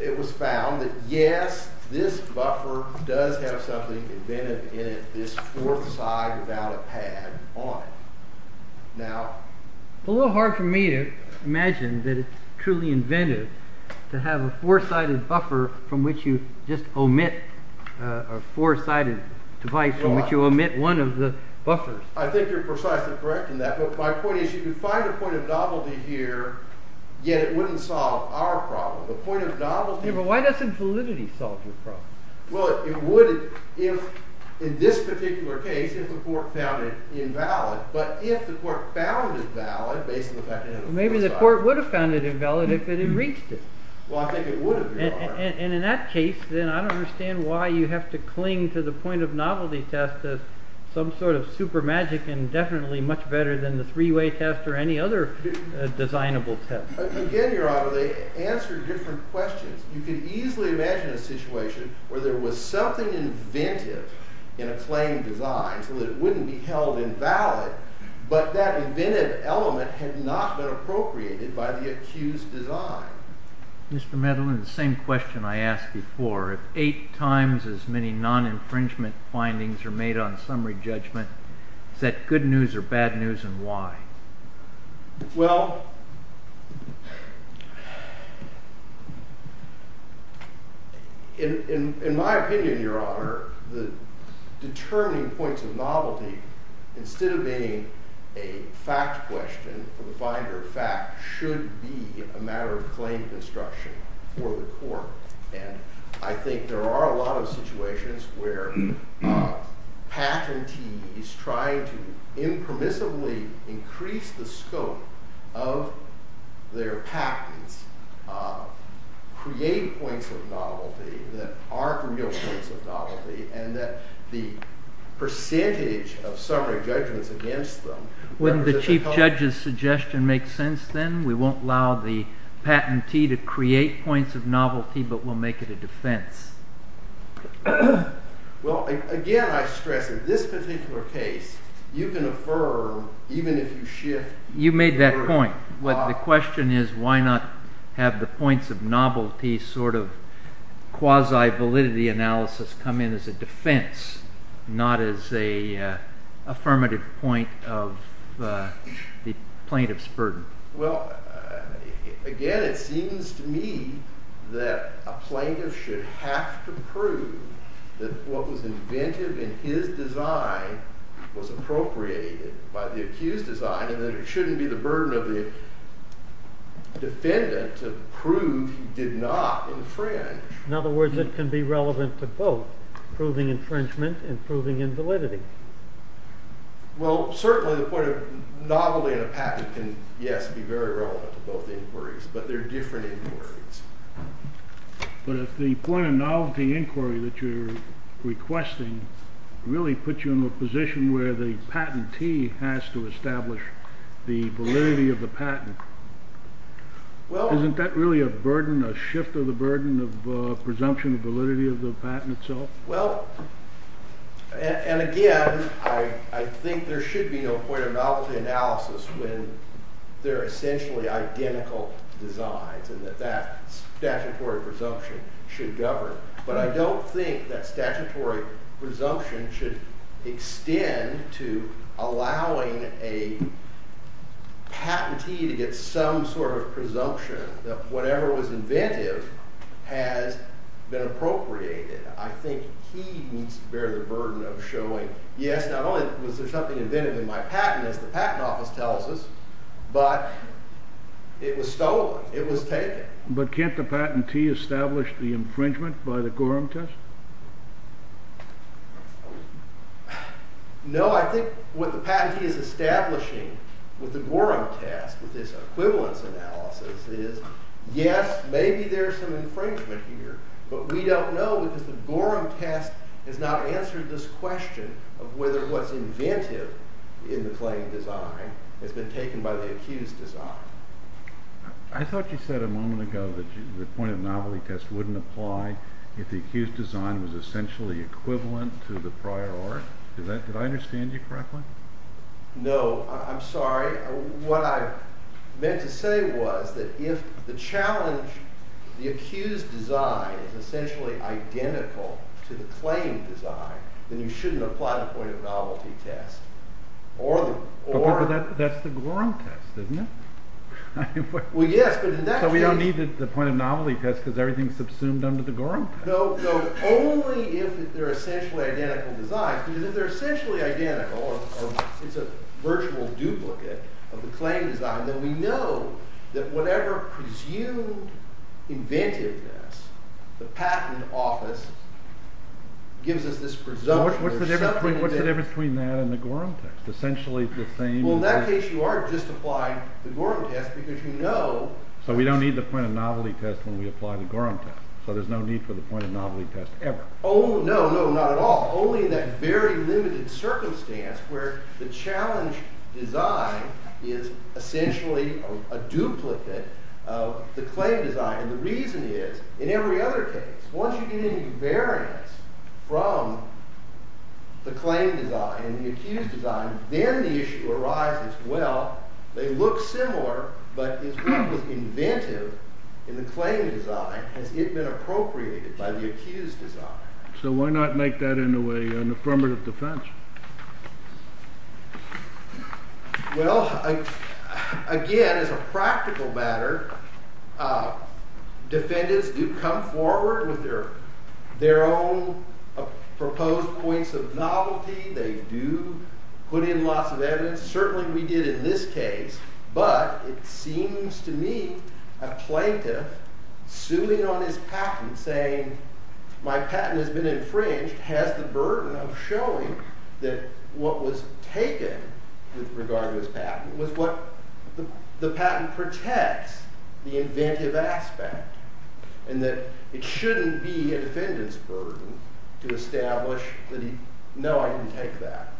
it was found that, yes, this buffer does have something inventive in it, this fourth side without a pad on it. Now... It's a little hard for me to imagine that it's truly inventive to have a four-sided buffer from which you just omit a four-sided device from which you omit one of the buffers. I think you're precisely correct in that, but my point is you could find a point of novelty here, yet it wouldn't solve our problem. The point of novelty... Yeah, but why doesn't validity solve your problem? Well, it would if, in this particular case, if the court found it invalid, but if the court found it valid based on the fact that it had a fourth side... Maybe the court would have found it invalid if it had reached it. Well, I think it would have, Your Honor. And in that case, then, I don't understand why you have to cling to the point of novelty test as some sort of super magic and definitely much better than the three-way test or any other designable test. Again, Your Honor, they answer different questions. You can easily imagine a situation where there was something inventive in a claim designed so that it wouldn't be held invalid, but that inventive element had not been appropriated by the accused design. Mr. Meadowland, the same question I asked before. If eight times as many non-infringement findings are made on summary judgment, is that good news or bad news and why? Well, in my opinion, Your Honor, the determining points of novelty, instead of being a fact question or the finder of fact, should be a matter of claim construction for the court. And I think there are a lot of situations where patentees trying to impermissibly increase the scope of their patents create points of novelty that aren't real points of novelty and that the percentage of summary judgments against them... Wouldn't the Chief Judge's suggestion make sense then? We won't allow the patentee to create points of novelty, but we'll make it a defense. Well, again, I stress, in this particular case, you can affirm even if you shift... You made that point, but the question is why not have the points of novelty sort of quasi- as a defense, not as a affirmative point of the plaintiff's burden. Well, again, it seems to me that a plaintiff should have to prove that what was inventive in his design was appropriated by the accused's design, and that it shouldn't be the burden of the defendant to prove he did not infringe. In other words, it can be relevant to both proving infringement and proving invalidity. Well, certainly the point of novelty in a patent can, yes, be very relevant to both inquiries, but they're different inquiries. But if the point of novelty inquiry that you're requesting really puts you in a position where the patentee has to establish the validity of the patent, isn't that really a burden, a shift of the burden of presumption of validity of the patent itself? Well, and again, I think there should be no point of novelty analysis when they're essentially identical designs and that that statutory presumption should govern. But I don't think that statutory presumption should extend to allowing a patentee to get some sort of incentive has been appropriated. I think he needs to bear the burden of showing, yes, not only was there something inventive in my patent, as the patent office tells us, but it was stolen. It was taken. But can't the patentee establish the infringement by the Gorham test? No, I think what the patentee is establishing with the Gorham test, with this equivalence analysis, is, yes, maybe there's some infringement here, but we don't know because the Gorham test has not answered this question of whether what's inventive in the claimed design has been taken by the accused design. I thought you said a moment ago that the point of novelty test wouldn't apply if the accused design was essentially equivalent to the prior art. Did I understand you correctly? No, I'm sorry. What I mean is that if the challenge, the accused design, is essentially identical to the claimed design, then you shouldn't apply the point of novelty test. But that's the Gorham test, isn't it? Well, yes, but in that case... So we don't need the point of novelty test because everything's subsumed under the Gorham test. No, only if they're essentially identical designs, because if they're essentially identical, it's a virtual duplicate of the claimed design, then we know that whatever presumed inventiveness the patent office gives us this presumption... What's the difference between that and the Gorham test? Essentially the same... Well, in that case, you are just applying the Gorham test because you know... So we don't need the point of novelty test when we apply the Gorham test? So there's no need for the point of novelty test ever? Oh, no, no, not at all. Only in that very limited circumstance where the challenge design is essentially a duplicate of the claimed design. And the reason is, in every other case, once you get any variance from the claimed design and the accused design, then the issue arises, well, they look similar, but is what was inventive in the claimed design, has it been appropriated by the accused design? So why not make that in a way an affirmative defense? Well, again, as a practical matter, defendants do come forward with their own proposed points of novelty, they do put in lots of evidence, certainly we did in this case, but it seems to me a plaintiff suing on his patent, saying my patent has been infringed, has the burden of showing that what was taken with regard to his patent was what the patent protects, the inventive aspect, and that it shouldn't be a defendant's burden to establish that he, no, I didn't take that.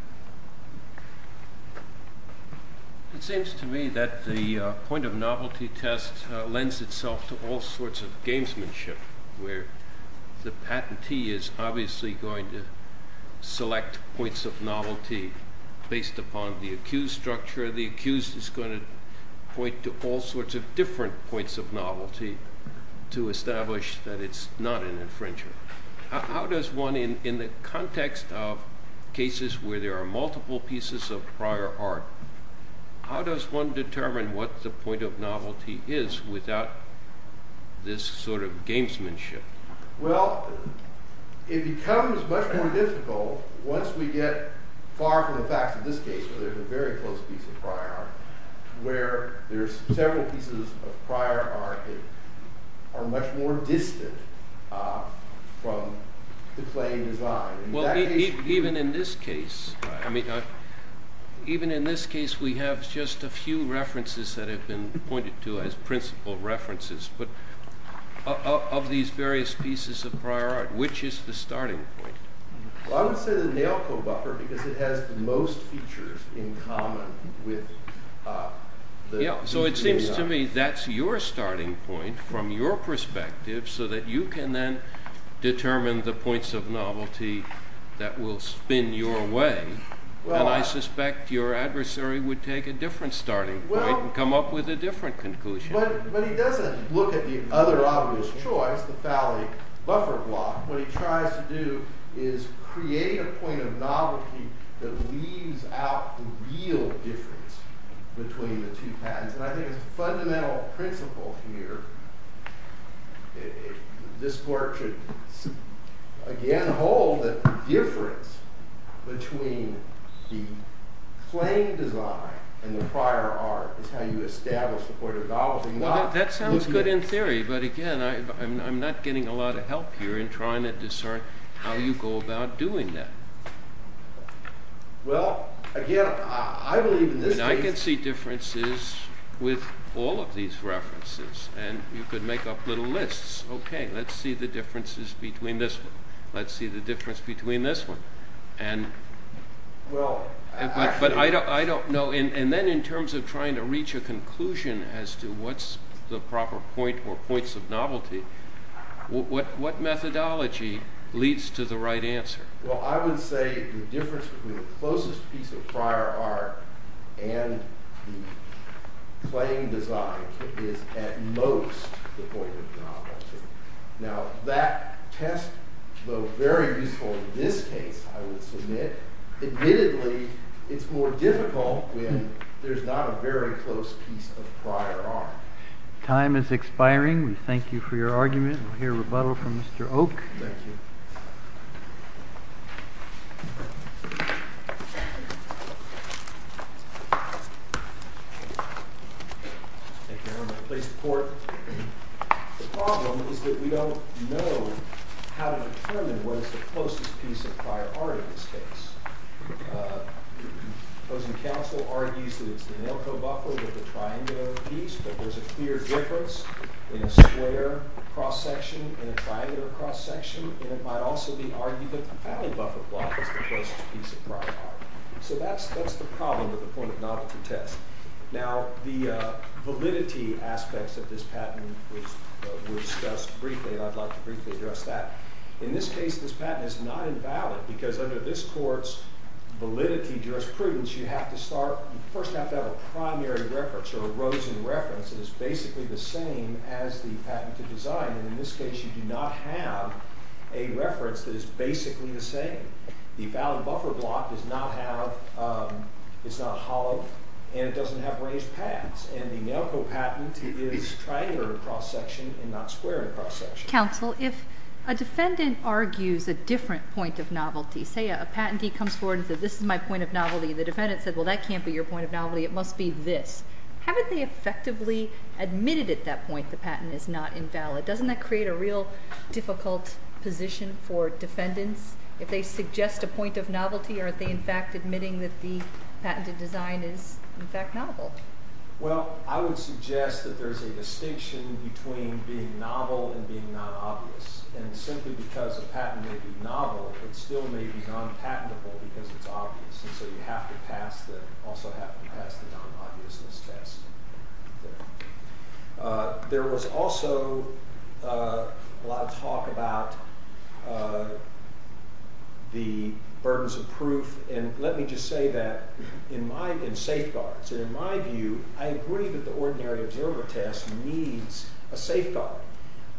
It seems to me that the point of novelty test lends itself to all sorts of gamesmanship where the patentee is obviously going to point to a point of novelty based upon the accused structure, the accused is going to point to all sorts of different points of novelty to establish that it's not an infringer. How does one, in the context of cases where there are multiple pieces of prior art, how does one determine what the point of novelty is without this sort of gamesmanship? Well, it becomes much more difficult once we get far from the facts of this case where there's a very close piece of prior art where there's several pieces of prior art that are much more distant from the plain design. Even in this case, even in this case we have just a few references that have been pointed to as principle references, but of these various pieces of prior art, we have not been able to determine what the point of novelty is without reference of this piece of prior art. So, I would say that the thing you have to do is create a point of novelty that leaves out the real difference between the two patterns, and I think it's a fundamental principle here. This work should again hold that the difference between the plain design and the prior art is how you establish the point of novelty. That sounds good in theory, but again, I'm not getting a lot of help here in trying to discern how you go about doing that. Well, again, I believe in this case- I can see differences with all of these references, and you could make up little lists. Okay, let's see the differences between this one. Let's see the difference between this one. And, but I don't know and then in terms of trying to reach a conclusion as to what's the proper point or points of novelty, what methodology leads to the right answer? Well, I would say the difference between the closest piece of prior art and the plain design is at most the point of novelty. Now, that test, though very useful in this case, I would submit, admittedly, it's more difficult when there's not a very close piece of prior art. Time is expiring. We thank you for your argument. We'll hear a rebuttal from Mr. Oak. Thank you, Your Honor. Please report. The problem is that we don't know how to determine what is the closest piece of prior art in this case. The opposing counsel argues that it's the Enelco buffer with the triangular piece, but there's a clear difference in a square cross-section and a triangular cross-section, and it might also be argued that the Paddle buffer block is the closest piece of prior art. So that's the problem at the point of novelty test. Now, the validity aspects of this patent were discussed briefly, and I'd like to briefly address that. In this case, this patent is not invalid because under this court's validity jurisprudence, you have to start first, you have to have a primary reference or a Rosen reference that is basically the same as the patented design, and in this case, you do not have a reference that is basically the same. The valid buffer block does not have it's not hollow, and it doesn't have ranged paths, and the Enelco patent is triangular cross-section and not square cross-section. Counsel, if a defendant argues a different point of novelty, say a patentee comes forward and says, this is my point of novelty, and the defendant says, well, that can't be your point of novelty, it must be this. Haven't they effectively admitted at that point the patent is not invalid? Doesn't that create a real difficult position for defendants if they suggest a point of novelty? Aren't they, in fact, admitting that the patented design is, in fact, novel? Well, I would suggest that there's a distinction between being novel and being non-obvious, and simply because a patent may be novel, it still may be non-patentable because it's obvious, and so you have to pass the non-obviousness test. There was also a lot of talk about the burdens of proof, and let me just say that in safeguards, in my view, I agree that the ordinary observer test needs a safeguard,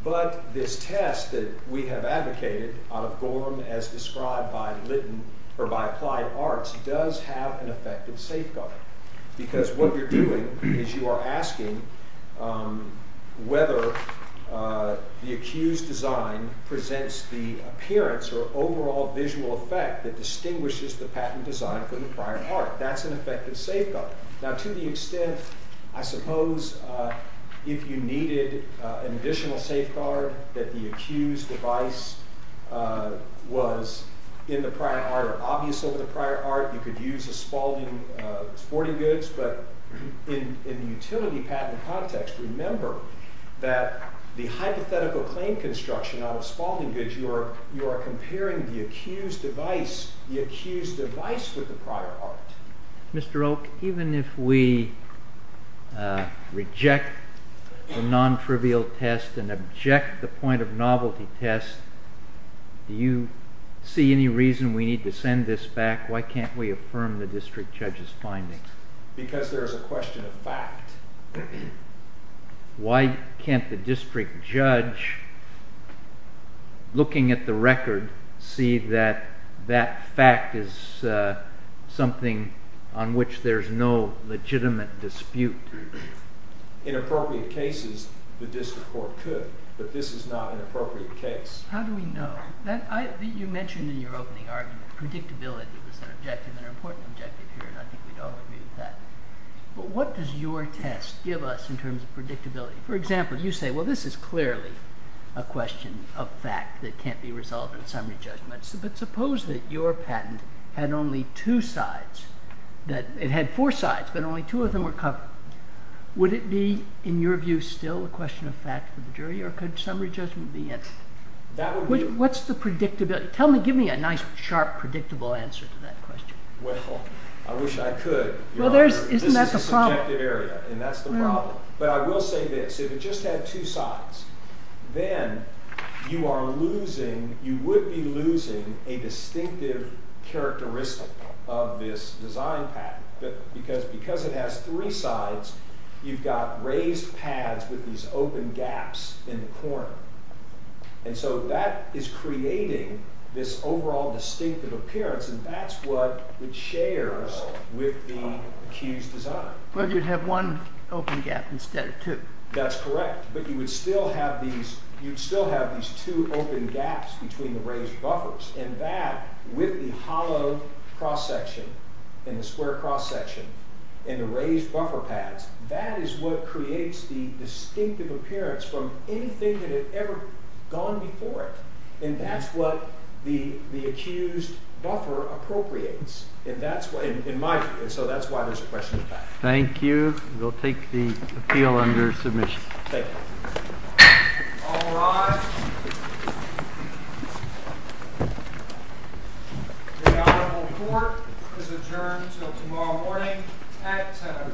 but this test that we have advocated out of Gorham as described by Applied Arts does have an effective safeguard, because what you're doing is you are asking whether the accused's design presents the appearance or overall visual effect that distinguishes the patent design from the prior part. That's an effective safeguard. Now, to the extent, I suppose, if you needed an additional safeguard, that the accused device was in the prior art or obvious over the prior art, you could use a Spalding sporting goods, but in the utility patent context, remember that the hypothetical claim construction out of Spalding goods, you are comparing the accused device with the prior art. Mr. Oak, even if we reject the non-trivial test and object the point of novelty test, do you see any reason we need to send this back? Why can't we affirm the district judge's finding? Because there's a question of fact. Why can't the district judge, looking at the record, see that that fact is something on which there's no legitimate dispute? In appropriate cases, the district court could, but this is not an appropriate case. How do we know? You mentioned in your opening argument, predictability was an objective and an important objective here, and I think we'd all agree with that. But what does your test give us in terms of predictability? For example, you say, well, this is clearly a question of fact that can't be resolved in a summary judgment, but suppose that your patent had only two sides, that it had four sides, but only two of them were covered. Would it be, in your view, still a question of fact for the jury, or could summary judgment be it? What's the predictability? Tell me, give me a nice sharp, predictable answer to that question. Well, I wish I could. Well, isn't that the problem? This is a subjective area, and that's the problem. But I will say this. If it just had two sides, then you are losing, you would be losing a distinctive characteristic of this design patent, because it has three sides, you've got raised pads with these open gaps in the corner. And so that is creating this overall distinctive appearance, and that's what it shares with the accused design. Well, you'd have one open gap instead of two. That's correct, but you would still have these, you'd still have these two open gaps between the raised buffers, and that, with the hollow cross section, and the square cross section, and the raised buffer pads, that is what creates the distinctive appearance from anything that had ever gone before it. And that's what the accused buffer appropriates. And that's why, in my view, and so that's why there's a question of fact. Thank you. We'll take the appeal under submission. All rise. The Honorable Court is adjourned until tomorrow morning at 7 o'clock.